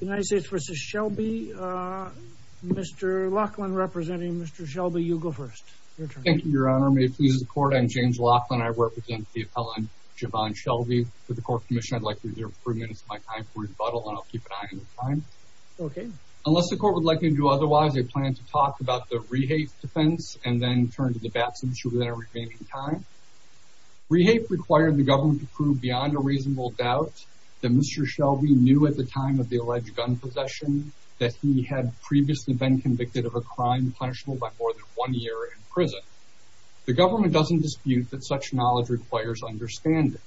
United States v. Shelby. Mr. Laughlin representing Mr. Shelby, you go first. Thank you, your honor. May it please the court, I'm James Laughlin. I represent the appellant, Javon Shelby. For the Court of Commission, I'd like to reserve three minutes of my time for rebuttal, and I'll keep an eye on the time. Okay. Unless the court would like me to do otherwise, I plan to talk about the rehape defense and then turn to the Batson issue within our remaining time. Rehape required the government to reasonable doubt that Mr. Shelby knew at the time of the alleged gun possession that he had previously been convicted of a crime punishable by more than one year in prison. The government doesn't dispute that such knowledge requires understanding.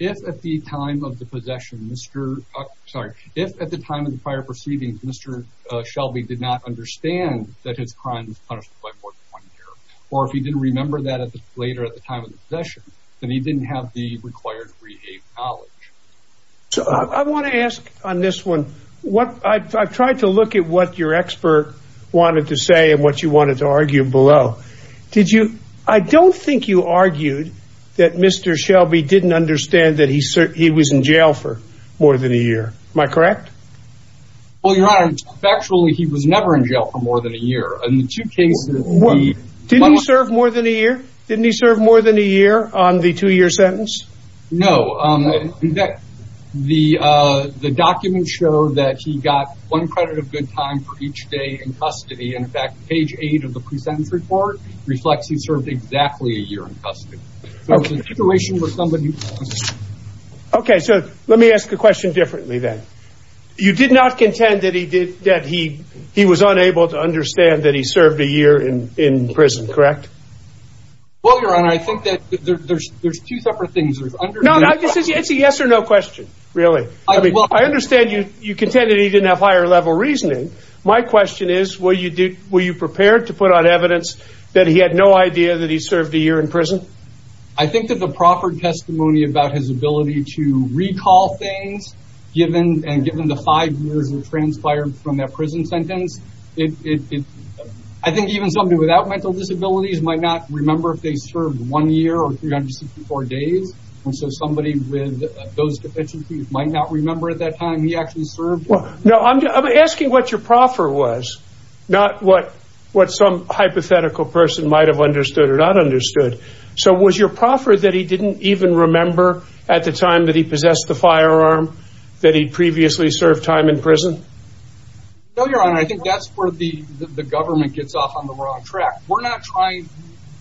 If at the time of the possession, Mr., sorry, if at the time of the prior proceedings, Mr. Shelby did not understand that his crime was punished by more than one year, or if he didn't remember that later at the time of the required rehape knowledge. So I want to ask on this one, what, I've tried to look at what your expert wanted to say and what you wanted to argue below. Did you, I don't think you argued that Mr. Shelby didn't understand that he was in jail for more than a year. Am I correct? Well, your honor, factually he was never in jail for more than a year. In the two cases... Didn't he serve more than a year? Didn't he serve more than a year on the two-year sentence? No, in fact, the documents show that he got one credit of good time for each day in custody. In fact, page eight of the pre-sentence report reflects he served exactly a year in custody. So it was a situation where somebody... Okay, so let me ask a question differently then. You did not contend that he did, that he, he was Well, your honor, I think that there's two separate things. No, it's a yes or no question, really. I mean, I understand you contend that he didn't have higher level reasoning. My question is, were you prepared to put on evidence that he had no idea that he served a year in prison? I think that the proffered testimony about his ability to recall things, given the five years that transpired from that prison sentence, it, I think even somebody without mental disabilities might not remember if they served one year or 364 days. And so somebody with those deficiencies might not remember at that time he actually served. Well, no, I'm asking what your proffer was, not what, what some hypothetical person might have understood or not understood. So was your proffer that he didn't even remember at the time that he possessed the firearm that he'd previously served time in prison? No, your honor, I think that's where the, the government gets off on the wrong track. We're not trying,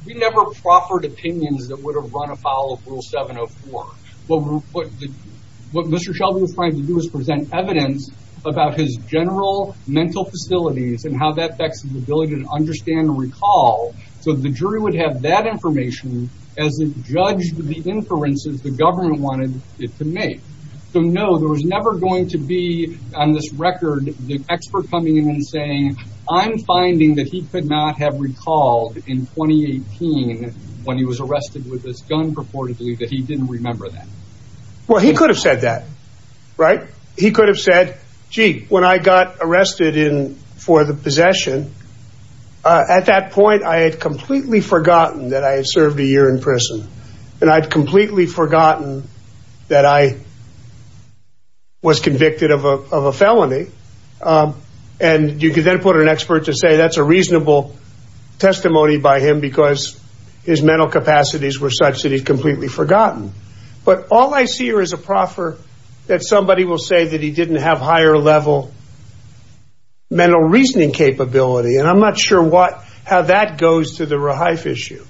we never proffered opinions that would have run afoul of rule 704. What Mr. Shelby was trying to do was present evidence about his general mental facilities and how that affects his ability to understand and recall. So the jury would have that information as it judged the inferences the government wanted it to make. So no, there was never going to be on this record, the expert coming in and saying, I'm finding that he could not have recalled in 2018 when he was arrested with this gun purportedly that he didn't remember that. Well, he could have said that, right? He could have said, gee, when I got arrested in for the possession, at that point, I had completely forgotten that I had served a year in prison. And I'd completely forgotten that I was convicted of a felony. And you could then put an expert to say that's a reasonable testimony by him because his mental capacities were such that he completely forgotten. But all I see here is a proffer that somebody will say that he didn't have higher level mental reasoning capability. And I'm not sure what, how that goes to the rehife issue.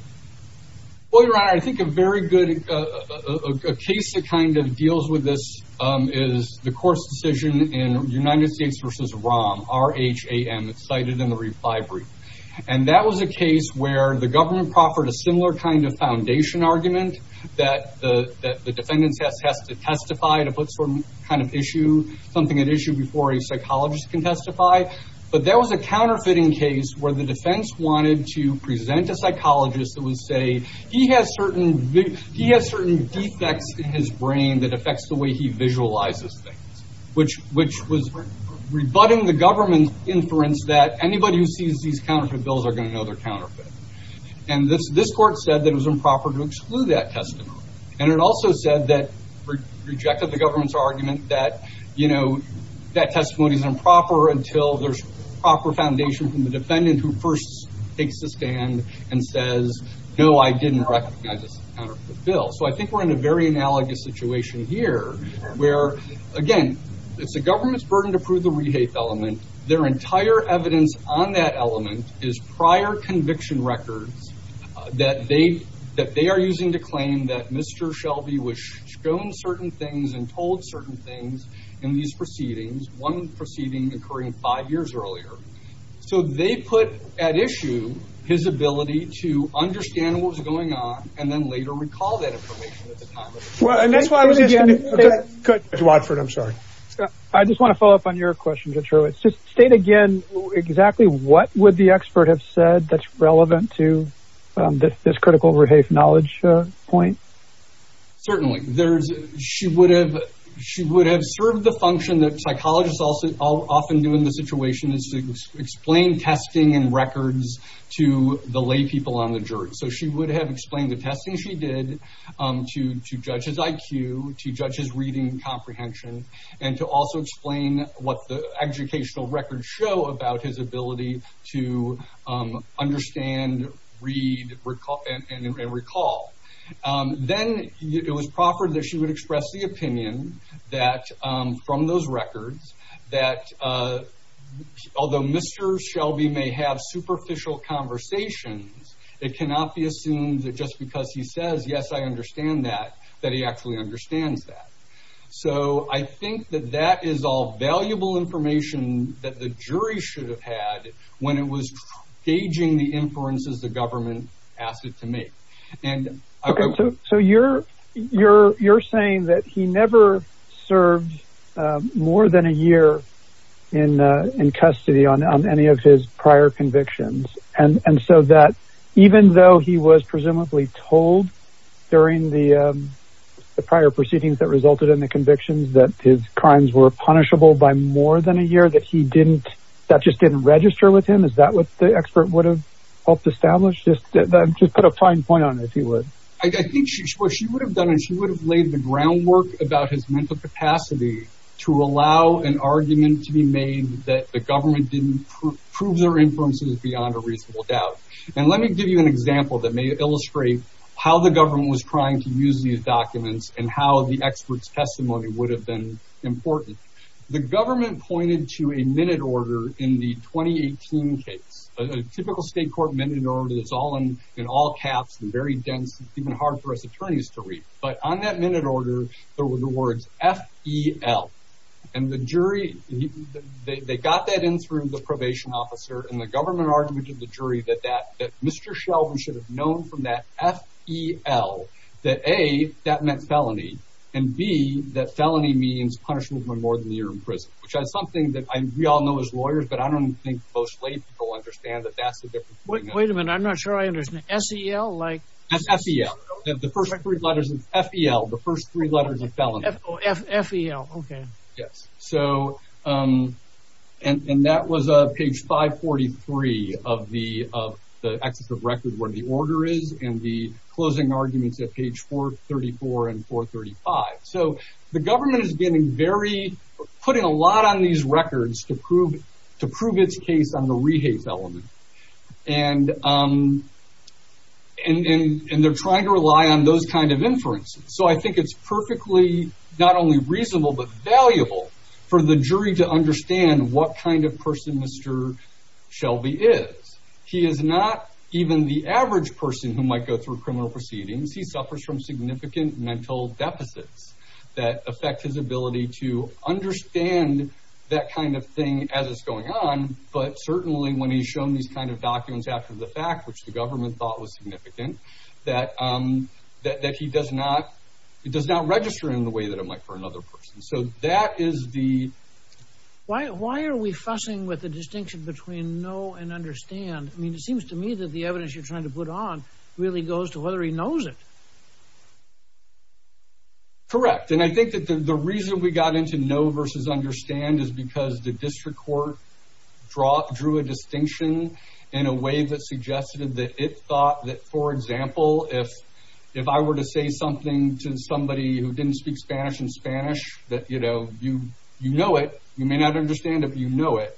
Well, your honor, I think a very good, a case that kind of deals with this is the court's decision in United States versus ROM, R-H-A-M, it's cited in the reply brief. And that was a case where the government proffered a similar kind of foundation argument that the defendants has to testify to put some kind of issue, something at issue before a psychologist can testify. But that was a counterfeiting case where the defense wanted to present a psychologist that would say he has certain defects in his brain that affects the way he visualizes things, which was rebutting the government inference that anybody who sees these counterfeit bills are going to know they're counterfeit. And this court said that it was improper to exclude that testimony. And it also said that, rejected the government's argument that, you know, that testimony is improper until there's proper foundation from the defendant who first takes a stand and says, no, I didn't recognize this as a counterfeit bill. So I think we're in a very analogous situation here where, again, it's the government's burden to prove the rehife element. Their entire evidence on that element is prior conviction records that they are using to claim that Mr. Shelby was shown certain things and told certain things in these proceedings, one proceeding occurring five years earlier. So they put at issue his ability to understand what was going on and then later recall that information at the time. I just want to follow up on your question, Detroit. State again exactly what would the expert have said that's relevant to this critical rehife knowledge point? Certainly there's she would have she would have served the function that psychologists also often do in this situation is to explain testing and records to the lay people on the jury. So she would have explained the testing she did to judge his IQ, to judge his reading comprehension, and to also explain what the educational records show about his ability to understand, read, recall, and recall. Then it was proffered that she would express the opinion that from those records that although Mr. Shelby may have superficial conversations, it cannot be assumed that just because he says, yes, I understand that, that he actually understands that. So I think that that is all valuable information that the jury should have had when it was gauging the inferences the government asked it to make. So you're saying that he never served more than a year in custody on any of his prior convictions and so that even though he was presumably told during the prior proceedings that resulted in the convictions that his crimes were punishable by more than a year that he didn't that just didn't register with him. Is that what the expert would have helped establish? Just put a fine point on it, if you would. I think what she would have done is she would have laid the groundwork about his mental capacity to allow an argument to be made that the government didn't prove their inferences beyond a reasonable doubt. And let me give you an example that may illustrate how the government was trying to use these documents and how the expert's testimony would have been important. The government pointed to a minute order in the 2018 case, a typical state court minute order that's all in all caps and very dense, even hard for us attorneys to read. But on that minute order, there were the words F.E.L. And the jury, they got that in through the probation officer and the government argument of the jury that Mr. That meant felony and B, that felony means punishable by more than a year in prison, which is something that we all know as lawyers. But I don't think most people understand that. That's the difference. Wait a minute. I'm not sure I understand. S.E.L. Like F.E.L. The first three letters of F.E.L. The first three letters of F.E.L. OK. Yes. So and that was a page 543 of the of the access of record where the order is and the closing arguments at page 434 and 435. So the government is getting very putting a lot on these records to prove to prove its case on the rehaze element. And and they're trying to rely on those kind of inference. So I think it's perfectly not only reasonable, but valuable for the jury to understand what kind of person Mr. Shelby is. He is not even the average person who might go through criminal proceedings. He suffers from significant mental deficits that affect his ability to understand that kind of thing as it's going on. But certainly when he's shown these kind of documents after the fact, which the government thought was significant, that that he does not it does not register in the way that it might for another person. So that is the. Why why are we fussing with the distinction between no and understand? I mean, it seems to me that the evidence you're trying to put on really goes to whether he knows it. Correct, and I think that the reason we got into no versus understand is because the district court draw drew a distinction in a way that suggested that it thought that, for example, if if I were to say something to somebody who didn't speak Spanish and Spanish that, you know, you you know it, you may not understand if you know it.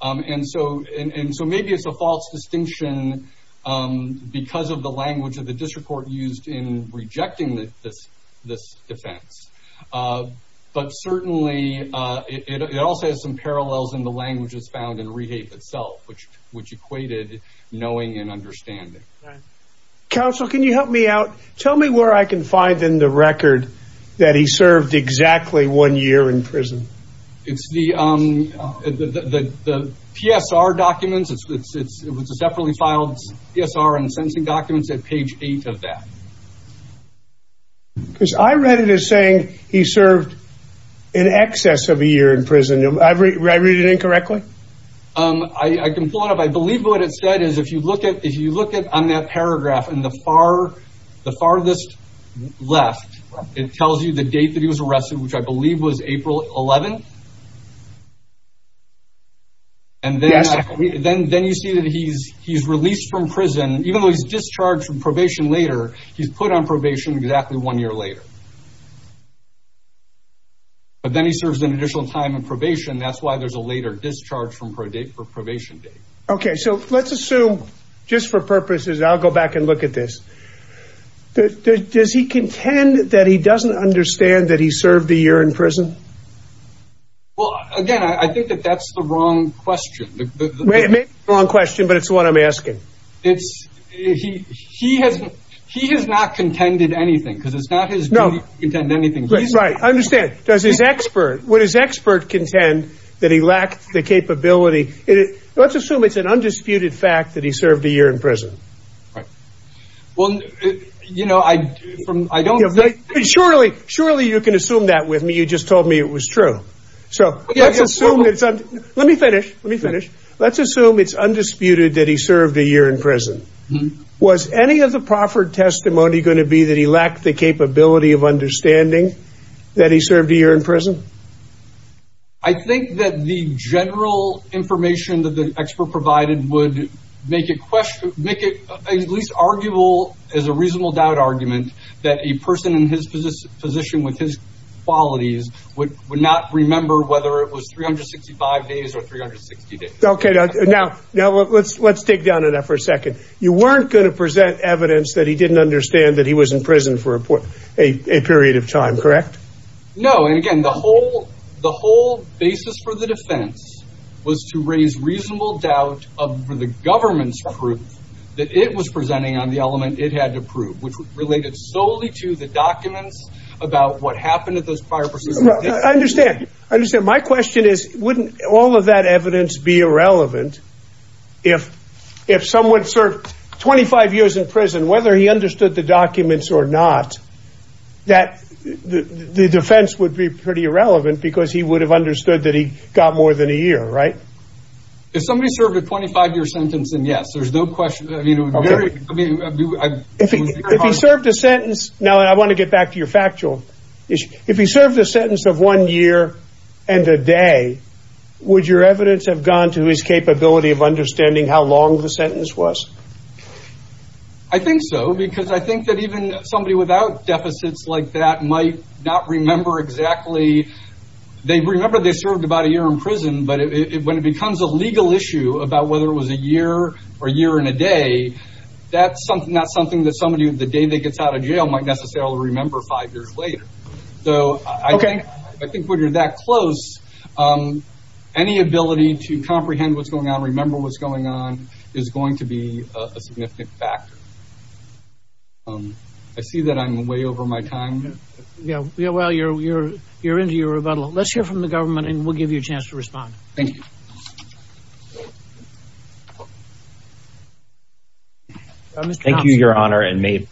And so and so maybe it's a false distinction because of the language of the district court used in rejecting this this defense. But certainly it also has some parallels in the languages found in rehab itself, which which equated knowing and understanding. Counsel, can you help me out? Tell me where I can find in the record that he served exactly one year in prison. It's the the the PSR documents. It's it's it's a separately filed PSR and sentencing documents at page eight of that. Because I read it as saying he served in excess of a year in prison. I read it incorrectly. I can pull it up. I believe what it said is if you look at if you look at on that paragraph in the far the farthest left, it tells you the date that he was arrested, which I believe was April 11th. And then we then then you see that he's he's released from prison, even though he's discharged from probation later, he's put on probation exactly one year later. But then he serves an additional time in probation. That's why there's a later discharge from probation. OK, so let's assume just for purposes, I'll go back and look at this. Does he contend that he doesn't understand that he served a year in prison? Well, again, I think that that's the wrong question, the wrong question. But it's what I'm asking. It's he he hasn't he has not contended anything because it's not his. No, he didn't anything right. I understand. Does his expert what his expert contend that he lacked the capability? Let's assume it's an undisputed fact that he served a year in prison. Right. Well, you know, I don't think surely, surely you can assume that with me. You just told me it was true. So let's assume it's let me finish. Let me finish. Let's assume it's undisputed that he served a year in prison. Was any of the proffered testimony going to be that he lacked the capability of understanding that he served a year in prison? I think that the general information that the expert provided would make a question, make it at least arguable as a reasonable doubt argument that a person in his position with his qualities would would not remember whether it was three hundred sixty five days or three hundred sixty days. OK, now now let's let's dig down on that for a second. You weren't going to present evidence that he didn't understand that he was in prison for a period of time, correct? No. And again, the whole the whole basis for the defense was to raise reasonable doubt of the government's proof that it was presenting on the element it had to prove, which was related solely to the documents about what happened at those parts. I understand. I understand. My question is, wouldn't all of that evidence be irrelevant if if someone served twenty five years in prison, whether he understood the documents or not, that the defense would be pretty irrelevant because he would have understood that he got more than a year. Right. If somebody served a twenty five year sentence and yes, there's no question. I mean, I think if he served a sentence now and I want to get back to your factual issue, if he served a sentence of one year and a day, would your evidence have gone to his capability of understanding how long the sentence was? I think so, because I think that even somebody without deficits like that might not remember exactly. They remember they served about a year in prison, but when it becomes a legal issue about whether it was a year or a year and a day, that's not something that somebody the day they gets out of jail might necessarily remember five years later. So I think I think when you're that close, any ability to comprehend what's going on, remember what's going on is going to be a significant factor. I see that I'm way over my time. Yeah. Yeah. Well, you're you're you're into your rebuttal. Let's hear from the government and we'll give you a chance to respond. Thank you. Thank you, your honor. And may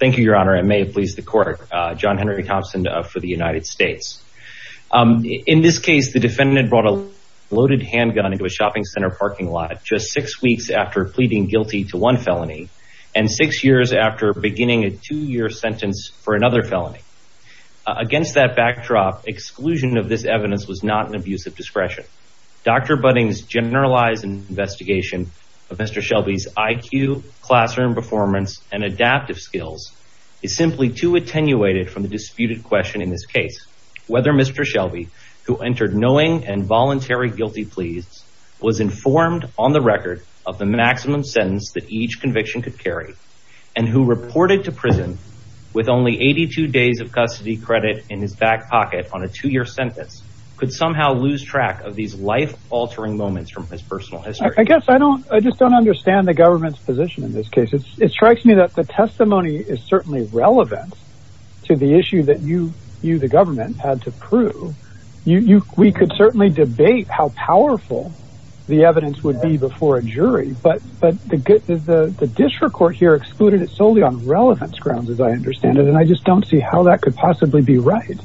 thank you, your honor. And may it please the court. John Henry Thompson for the United States. In this case, the defendant brought a loaded handgun into a shopping center parking lot just six weeks after pleading guilty to one felony. And six years after beginning a two year sentence for another felony against that backdrop, exclusion of this evidence was not an abuse of discretion. Dr. Budding's generalized investigation of Mr. Shelby's IQ classroom performance and adaptive skills is simply too attenuated from the disputed question in this case. Whether Mr. Shelby, who entered knowing and voluntary guilty pleas, was informed on the record of the maximum sentence that each conviction could carry and who reported to prison with only 82 days of custody credit in his back pocket on a two year sentence, could somehow lose track of these life altering moments from his personal history. I guess I don't I just don't understand the government's position in this case. It strikes me that the testimony is certainly relevant to the issue that you, you, the government had to prove. You we could certainly debate how powerful the evidence would be before a jury. But but the district court here excluded it solely on relevance grounds, as I understand it. And I just don't see how that could possibly be right.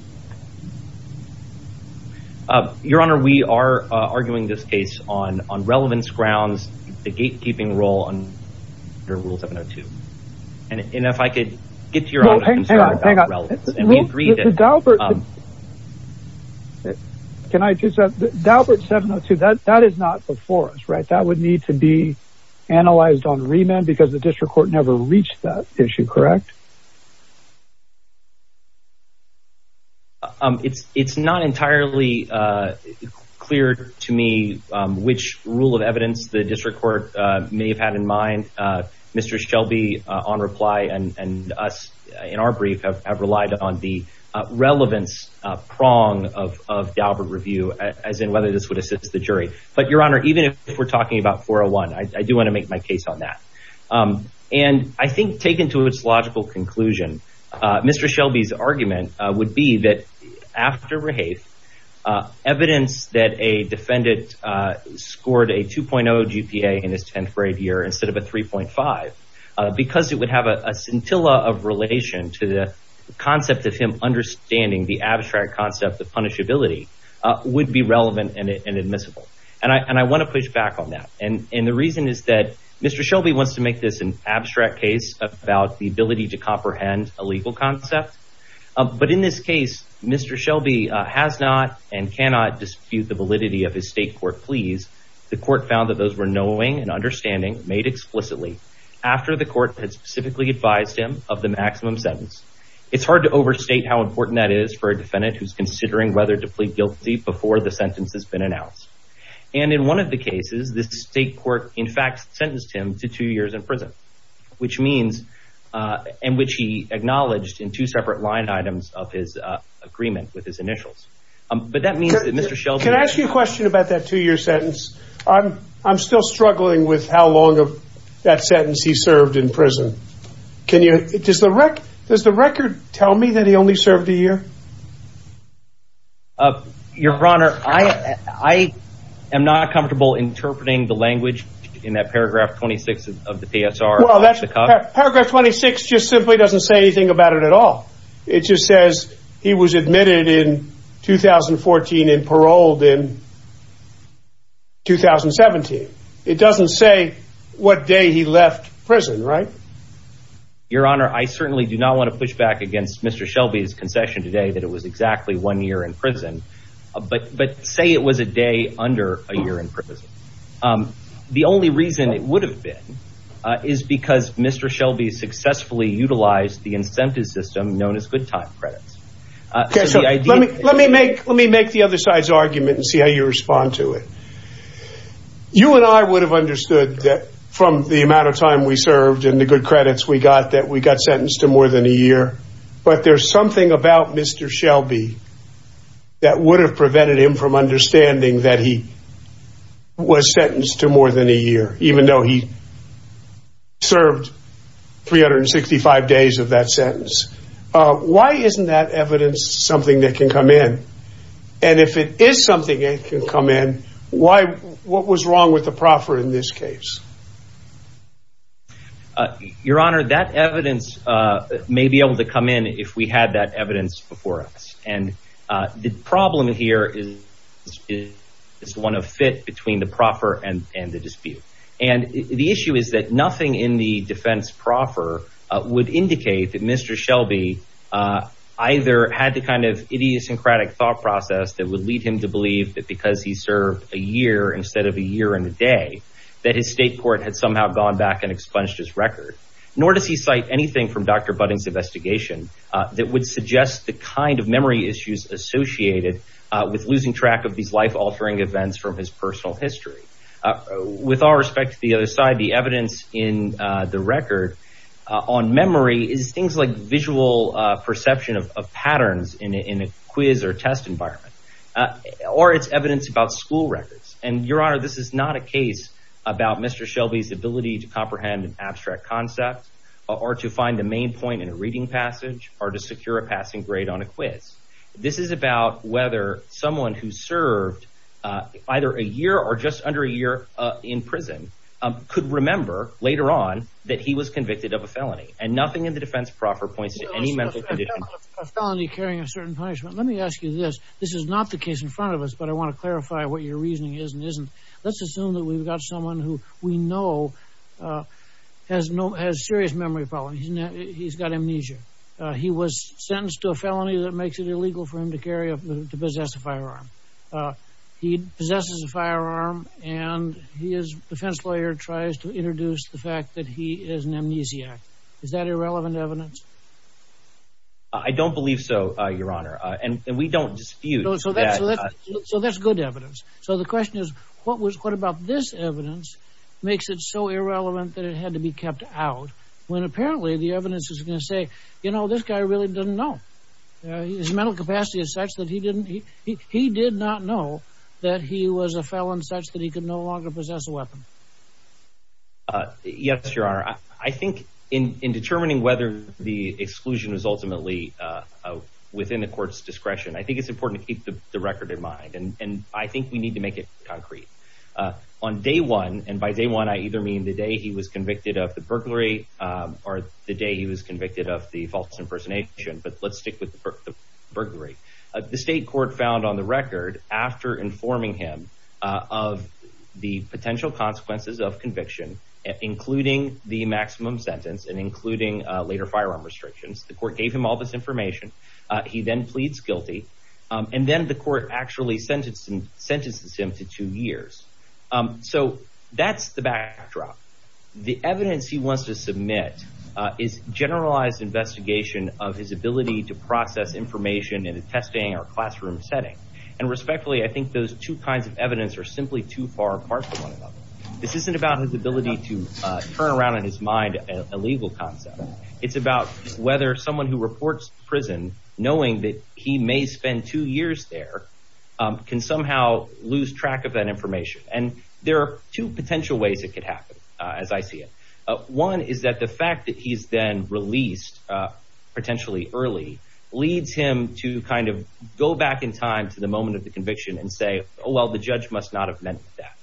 Your Honor, we are arguing this case on on relevance grounds, the gatekeeping role under Rule 702. And if I could get your hang on, hang on. And we agreed that Daubert. Can I just Daubert 702 that that is not before us, right? That would need to be analyzed on remand because the district court never reached that issue. Correct. It's it's not entirely clear to me which rule of evidence the district court may have had in mind. Mr. Shelby on reply and us in our brief have relied on the relevance prong of of Daubert review, as in whether this would assist the jury. But, Your Honor, even if we're talking about 401, I do want to make my case on that. And I think taken to its logical conclusion, Mr. Shelby's argument would be that after rehave evidence that a defendant scored a 2.0 GPA in his 10th grade year instead of a 3.5, because it would have a scintilla of relation to the concept of him understanding the abstract concept of punishability would be relevant and admissible. And I and I want to push back on that. And the reason is that Mr. Shelby wants to make this an abstract case about the ability to comprehend a legal concept. But in this case, Mr. Shelby has not and cannot dispute the validity of his state court pleas. The court found that those were knowing and understanding made explicitly after the court had specifically advised him of the maximum sentence. It's hard to overstate how important that is for a defendant who's considering whether to plead guilty before the sentence has been announced. And in one of the cases, the state court, in fact, sentenced him to two years in prison, which means in which he acknowledged in two separate line items of his agreement with his initials. But that means that Mr. Shelby can ask you a question about that two year sentence. I'm I'm still struggling with how long of that sentence he served in prison. Can you just the wreck? Does the record tell me that he only served a year? Your Honor, I I am not comfortable interpreting the language in that paragraph. Twenty six of the PSR. Well, that's a paragraph. Twenty six just simply doesn't say anything about it at all. It just says he was admitted in 2014 and paroled in. 2017, it doesn't say what day he left prison, right? Your Honor, I certainly do not want to push back against Mr. Shelby's concession today that it was exactly one year in prison, but but say it was a day under a year in prison. The only reason it would have been is because Mr. Shelby successfully utilized the incentive system known as good time credits. OK, so let me let me make let me make the other side's argument and see how you respond to it. You and I would have understood that from the amount of time we served and the good credits we got that we got sentenced to more than a year. But there's something about Mr. Shelby that would have prevented him from understanding that he was sentenced to more than a year, even though he served 365 days of that sentence. Why isn't that evidence something that can come in? And if it is something that can come in, why what was wrong with the proffer in this case? Your Honor, that evidence may be able to come in if we had that evidence before us, and the problem here is it is one of fit between the proffer and and the dispute. And the issue is that nothing in the defense proffer would indicate that Mr. Shelby either had the kind of idiosyncratic thought process that would lead him to believe that because he served a year instead of a year and a day, that his statement was wrong. That the Supreme Court had somehow gone back and expunged his record, nor does he cite anything from Dr. Budden's investigation that would suggest the kind of memory issues associated with losing track of these life altering events from his personal history. With all respect to the other side, the evidence in the record on memory is things like visual perception of patterns in a quiz or test environment or its evidence about school records. And Your Honor, this is not a case about Mr. Shelby's ability to comprehend an abstract concept or to find the main point in a reading passage or to secure a passing grade on a quiz. This is about whether someone who served either a year or just under a year in prison could remember later on that he was convicted of a felony. And nothing in the defense proffer points to any mental condition felony carrying a certain punishment. Let me ask you this. This is not the case in front of us, but I want to clarify what your reasoning is and isn't. Let's assume that we've got someone who we know has no has serious memory problems. He's got amnesia. He was sentenced to a felony that makes it illegal for him to carry up to possess a firearm. He possesses a firearm and his defense lawyer tries to introduce the fact that he is an amnesiac. Is that irrelevant evidence? I don't believe so, Your Honor. And we don't dispute. So that's good evidence. So the question is, what was what about this evidence makes it so irrelevant that it had to be kept out when apparently the evidence is going to say, you know, this guy really doesn't know his mental capacity is such that he didn't he he did not know that he was a felon such that he could no longer possess a weapon. Yes, Your Honor, I think in determining whether the exclusion is ultimately within the court's discretion, I think it's important to keep the record in mind. And I think we need to make it concrete on day one. And by day one, I either mean the day he was convicted of the burglary or the day he was convicted of the false impersonation. But let's stick with the burglary. The state court found on the record after informing him of the potential consequences of conviction, including the maximum sentence and including later firearm restrictions. The court gave him all this information. He then pleads guilty and then the court actually sentenced him to two years. So that's the backdrop. The evidence he wants to submit is generalized investigation of his ability to process information in a testing or classroom setting. And respectfully, I think those two kinds of evidence are simply too far apart. This isn't about his ability to turn around in his mind a legal concept. It's about whether someone who reports prison, knowing that he may spend two years there, can somehow lose track of that information. And there are two potential ways it could happen. As I see it, one is that the fact that he's been released potentially early leads him to kind of go back in time to the moment of the conviction and say, oh, well, the judge must not have meant that.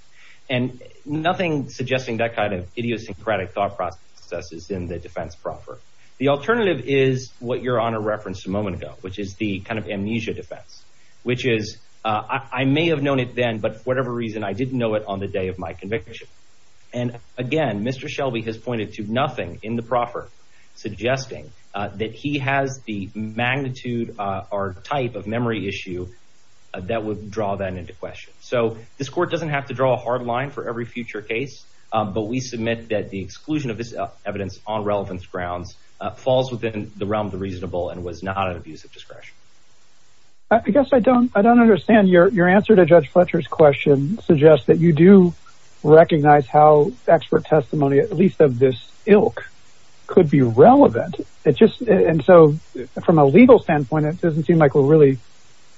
And nothing suggesting that kind of idiosyncratic thought process is in the defense proper. The alternative is what your honor referenced a moment ago, which is the kind of amnesia defense, which is I may have known it then. But for whatever reason, I didn't know it on the day of my conviction. And again, Mr. Shelby has pointed to nothing in the proper, suggesting that he has the magnitude or type of memory issue that would draw that into question. So this court doesn't have to draw a hard line for every future case. But we submit that the exclusion of this evidence on relevance grounds falls within the realm of the reasonable and was not an abuse of discretion. I guess I don't I don't understand your your answer to Judge Fletcher's question suggests that you do recognize how expert testimony, at least of this ilk, could be relevant. It's just and so from a legal standpoint, it doesn't seem like we're really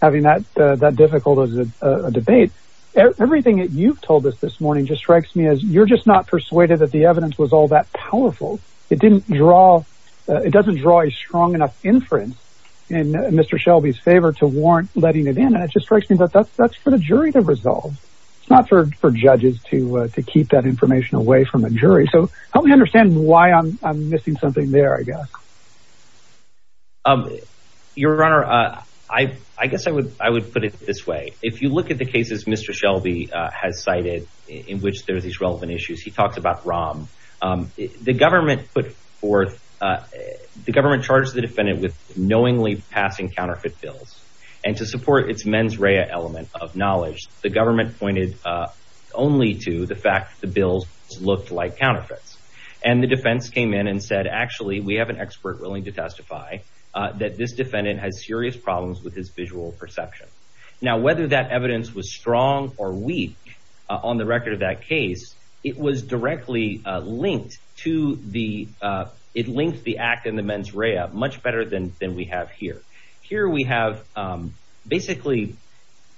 having that that difficult as a debate. Everything that you've told us this morning just strikes me as you're just not persuaded that the evidence was all that powerful. It didn't draw it doesn't draw a strong enough inference in Mr. Shelby's favor to warrant letting it in. And it just strikes me that that's that's for the jury to resolve. It's not for for judges to to keep that information away from a jury. So help me understand why I'm missing something there, I guess. Your honor, I guess I would I would put it this way. If you look at the cases Mr. Shelby has cited in which there's these relevant issues, he talks about ROM. The government put forth the government charged the defendant with knowingly passing counterfeit bills and to support its mens rea element of knowledge. The government pointed only to the fact that the bills looked like counterfeits. And the defense came in and said, actually, we have an expert willing to testify that this defendant has serious problems with his visual perception. Now, whether that evidence was strong or weak on the record of that case, it was directly linked to the it linked the act in the mens rea much better than than we have here. Here we have basically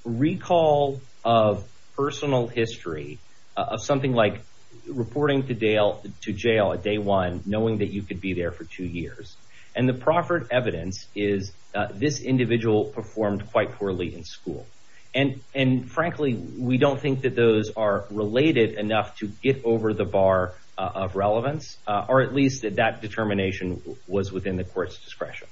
recall of personal history of something like reporting to jail to jail a day one, knowing that you could be there for two years. And the proffered evidence is this individual performed quite poorly in school. And and frankly, we don't think that those are related enough to get over the bar of relevance, or at least that that determination was within the court's discretion.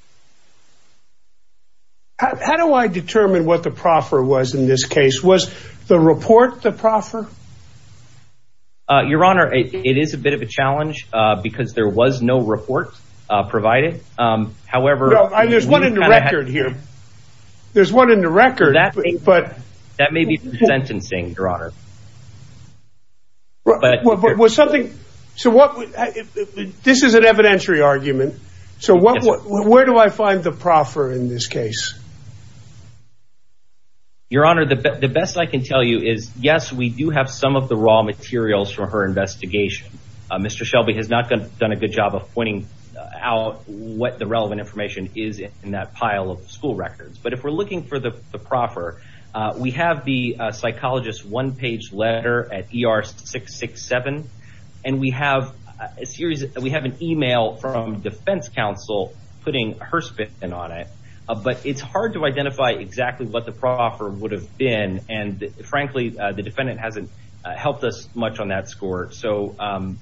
How do I determine what the proffer was in this case? Was the report the proffer? Your Honor, it is a bit of a challenge because there was no report provided. However, there's one in the record here. There's one in the record that but that may be sentencing, Your Honor. But was something. So what this is an evidentiary argument. So what where do I find the proffer in this case? Your Honor, the best I can tell you is, yes, we do have some of the raw materials for her investigation. Mr. Shelby has not done a good job of pointing out what the relevant information is in that pile of school records. But if we're looking for the proffer, we have the psychologist one page letter at ER 667 and we have a series that we have an email from Defense Council putting her spit in on it. But it's hard to identify exactly what the proffer would have been. And frankly, the defendant hasn't helped us much on that score. So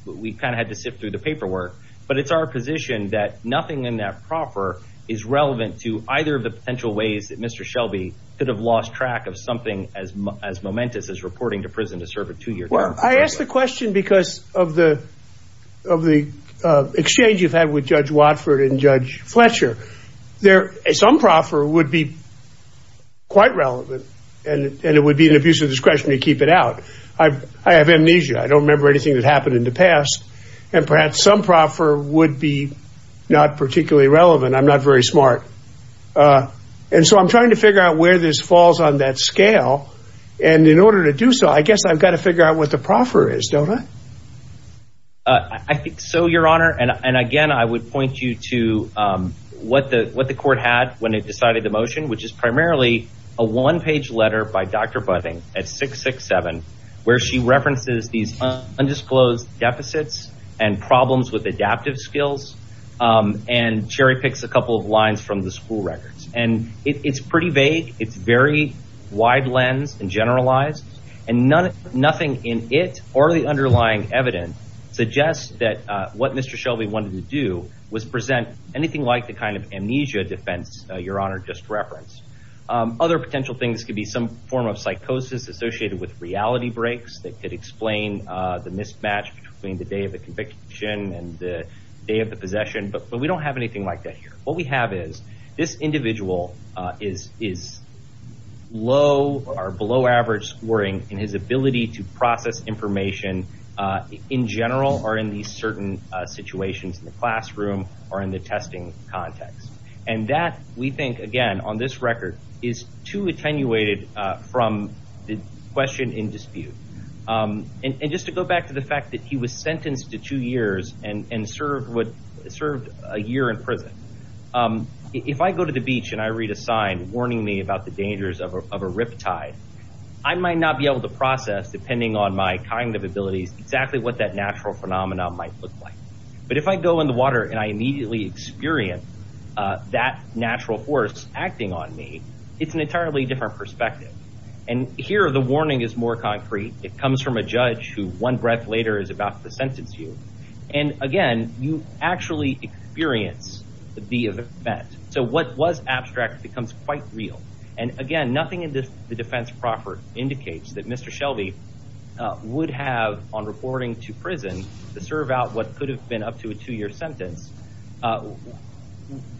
we kind of had to sift through the paperwork. But it's our position that nothing in that proffer is relevant to either of the potential ways that Mr. Shelby could have lost track of something as as momentous as reporting to prison to serve a two year. I ask the question because of the of the exchange you've had with Judge Watford and Judge Fletcher. There is some proffer would be quite relevant and it would be an abuse of discretion to keep it out. I have amnesia. I don't remember anything that happened in the past. And perhaps some proffer would be not particularly relevant. I'm not very smart. And so I'm trying to figure out where this falls on that scale. And in order to do so, I guess I've got to figure out what the proffer is, don't I? I think so, Your Honor. And again, I would point you to what the what the court had when it decided the motion, which is primarily a one page letter by Dr. Budding at 667, where she references these undisclosed deficits and problems with adaptive skills. And cherry picks a couple of lines from the school records. And it's pretty vague. It's very wide lens and generalized. And nothing in it or the underlying evidence suggests that what Mr. Shelby wanted to do was present anything like the kind of amnesia defense Your Honor just referenced. Other potential things could be some form of psychosis associated with reality breaks that could explain the mismatch between the day of the conviction and the day of the possession. But we don't have anything like that here. What we have is this individual is is low or below average scoring in his ability to process information in general or in these certain situations in the classroom or in the testing context. And that we think, again, on this record is too attenuated from the question in dispute. And just to go back to the fact that he was sentenced to two years and served what served a year in prison. If I go to the beach and I read a sign warning me about the dangers of a riptide, I might not be able to process, depending on my kind of abilities, exactly what that natural phenomenon might look like. But if I go in the water and I immediately experience that natural force acting on me, it's an entirely different perspective. And here, the warning is more concrete. It comes from a judge who, one breath later, is about to sentence you. And again, you actually experience the event. So what was abstract becomes quite real. And again, nothing in the defense proper indicates that Mr. Shelby would have on reporting to prison to serve out what could have been up to a two year sentence,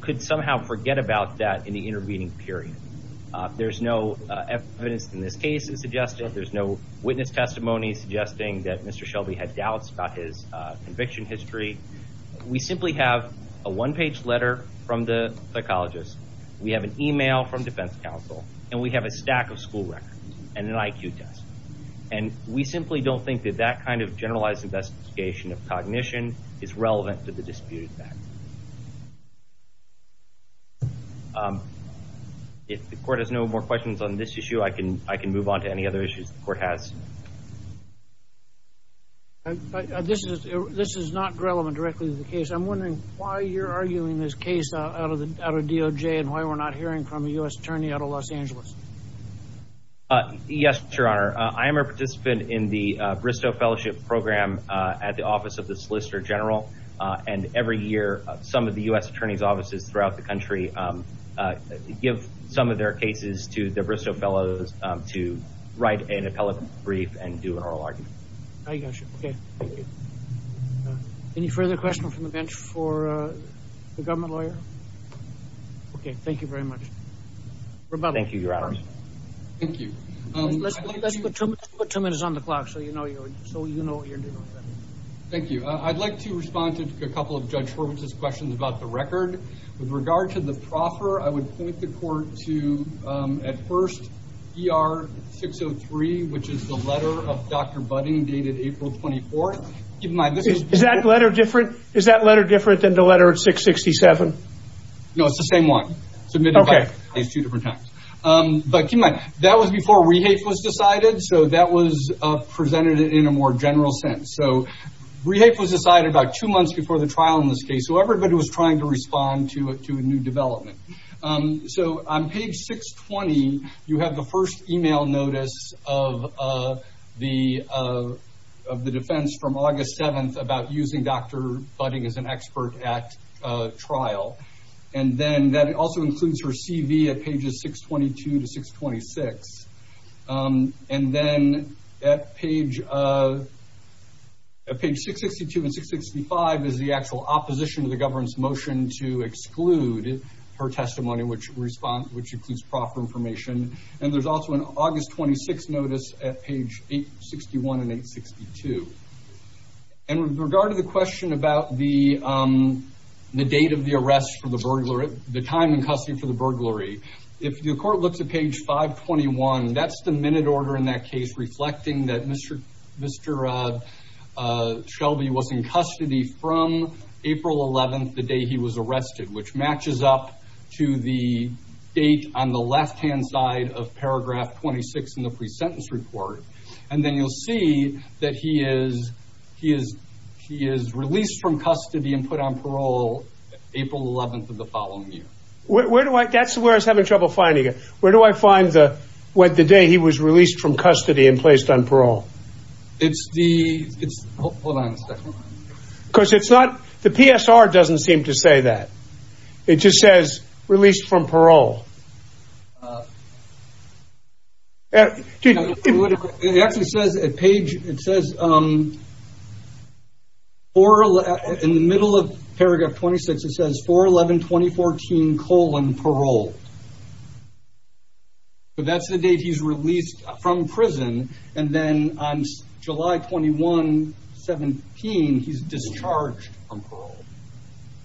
could somehow forget about that in the intervening period. There's no evidence in this case suggesting, there's no witness testimony suggesting that Mr. Shelby had doubts about his conviction history. We simply have a one page letter from the psychologist. We have an email from defense counsel and we have a stack of school records and an IQ test. And we simply don't think that that kind of generalized investigation of cognition is relevant to the dispute. If the court has no more questions on this issue, I can I can move on to any other issues the court has. This is this is not relevant directly to the case. I'm wondering why you're arguing this case out of the DOJ and why we're not hearing from a U.S. attorney out of Los Angeles. Yes, Your Honor. I am a participant in the Bristow Fellowship Program at the office of the Solicitor General. And every year, some of the U.S. attorney's offices throughout the country give some of their cases to the Bristow Fellows to write an appellate brief and do an oral argument. OK. Any further questions from the bench for the government lawyer? OK, thank you very much. Thank you, Your Honor. Thank you. Let's put two minutes on the clock so you know, so you know what you're doing. Thank you. I'd like to respond to a couple of Judge Horvitz's questions about the record. With regard to the proffer, I would point the court to at first, ER 603, which is the letter of Dr. Budding dated April 24th. Is that letter different? Is that letter different than the letter 667? No, it's the same one. Submitted two different times. But that was before rehafe was decided. So that was presented in a more general sense. So rehafe was decided about two months before the trial in this case. So everybody was trying to respond to a new development. So on page 620, you have the first email notice of the of the defense from August 7th about using Dr. Budding as an expert at trial. And then that also includes her CV at pages 622 to 626. And then at page 662 and 665 is the actual opposition to the government's motion to exclude her testimony, which includes proffer information. And there's also an August 26th notice at page 861 and 862. And with regard to the question about the date of the arrest for the burglar, the time in custody for the That's the minute order in that case, reflecting that Mr. Mr. Shelby was in custody from April 11th, the day he was arrested, which matches up to the date on the left hand side of paragraph 26 in the presentence report. And then you'll see that he is he is he is released from custody and put on parole April 11th of the following year. Where do I that's where I was having trouble finding it. Where do I find the what the day he was released from custody and placed on parole? It's the it's hold on a second because it's not the PSR doesn't seem to say that it just says released from parole. It actually says at page it says. Or in the middle of paragraph 26, it says for 11 2014 colon parole. But that's the date he's released from prison. And then on July 21, 17, he's discharged from parole.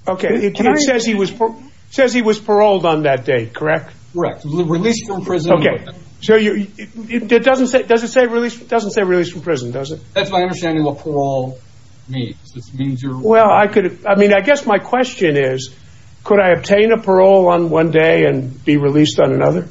OK, it says he was says he was paroled on that day. Correct. Correct. Released from prison. OK, so it doesn't say it doesn't say released, doesn't say released from prison, does it? That's my understanding of parole. Me. This means you're well, I could I mean, I guess my question is, could I obtain a parole on one day and be released on another?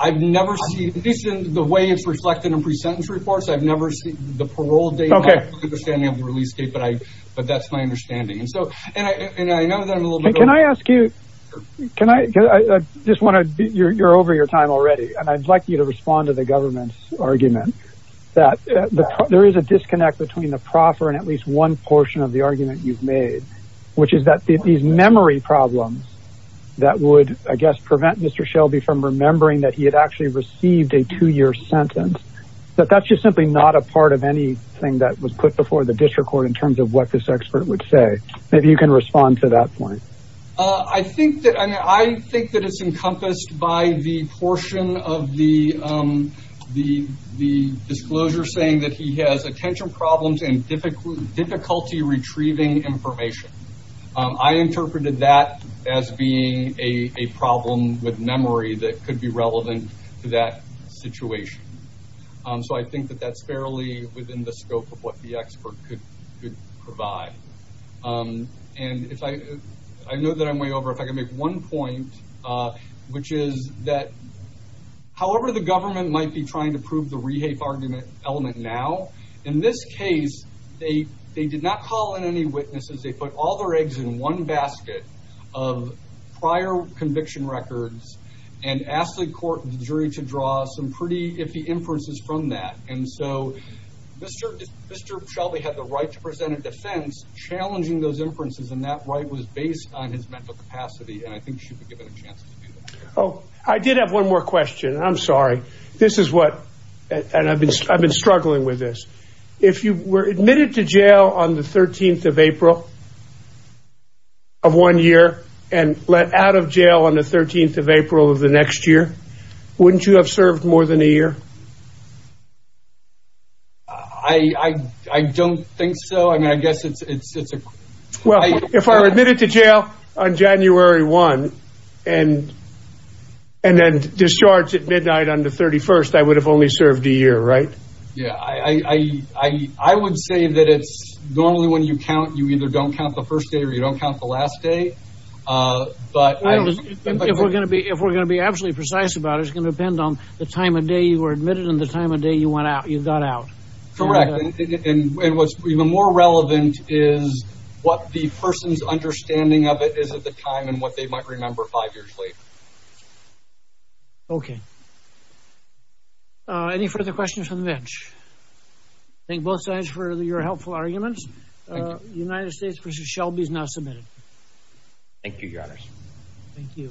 I've never seen this in the way it's reflected in pre-sentence reports. I've never seen the parole date. OK, I understand you have a release date, but I but that's my understanding. And so and I know that I'm a little bit. Can I ask you, can I just want to you're over your time already. And I'd like you to respond to the government's argument that there is a disconnect between the proffer and at least one portion of the argument you've made, which is that these memory problems that would, I guess, prevent Mr. Shelby from remembering that he had actually received a two year sentence. But that's just simply not a part of anything that was put before the district court in terms of what this expert would say. Maybe you can respond to that point. I think that I think that it's encompassed by the portion of the the the disclosure saying that he has attention problems and difficult difficulty retrieving information. I interpreted that as being a problem with memory that could be relevant to that situation. So I think that that's fairly within the scope of what the expert could provide. And if I I know that I'm way over if I can make one point, which is that. However, the government might be trying to prove the rehafe argument element now, in this case, they they did not call in any witnesses. They put all their eggs in one basket of prior conviction records and asked the court jury to draw some pretty iffy inferences from that. And so, Mr. Mr. Shelby had the right to present a defense challenging those inferences. And that right was based on his mental capacity. And I think she could give it a chance. Oh, I did have one more question. I'm sorry. This is what I've been I've been struggling with this. If you were admitted to jail on the 13th of April. Of one year and let out of jail on the 13th of April of the next year, wouldn't you have served more than a year? I don't think so. I mean, I guess it's it's it's. Well, if I were admitted to jail on January one and and then discharged at midnight on the 31st, I would have only served a year. Right. Yeah, I, I, I would say that it's normally when you count, you either don't count the first day or you don't count the last day. But if we're going to be if we're going to be absolutely precise about it's going to depend on the time of day you were admitted and the time of day you went out, you got out. Correct. And what's even more relevant is what the person's understanding of it is at the time and what they might remember five years later. OK. Any further questions from the bench? Thank both sides for your helpful arguments. United States versus Shelby is now submitted. Thank you, your honor. Thank you.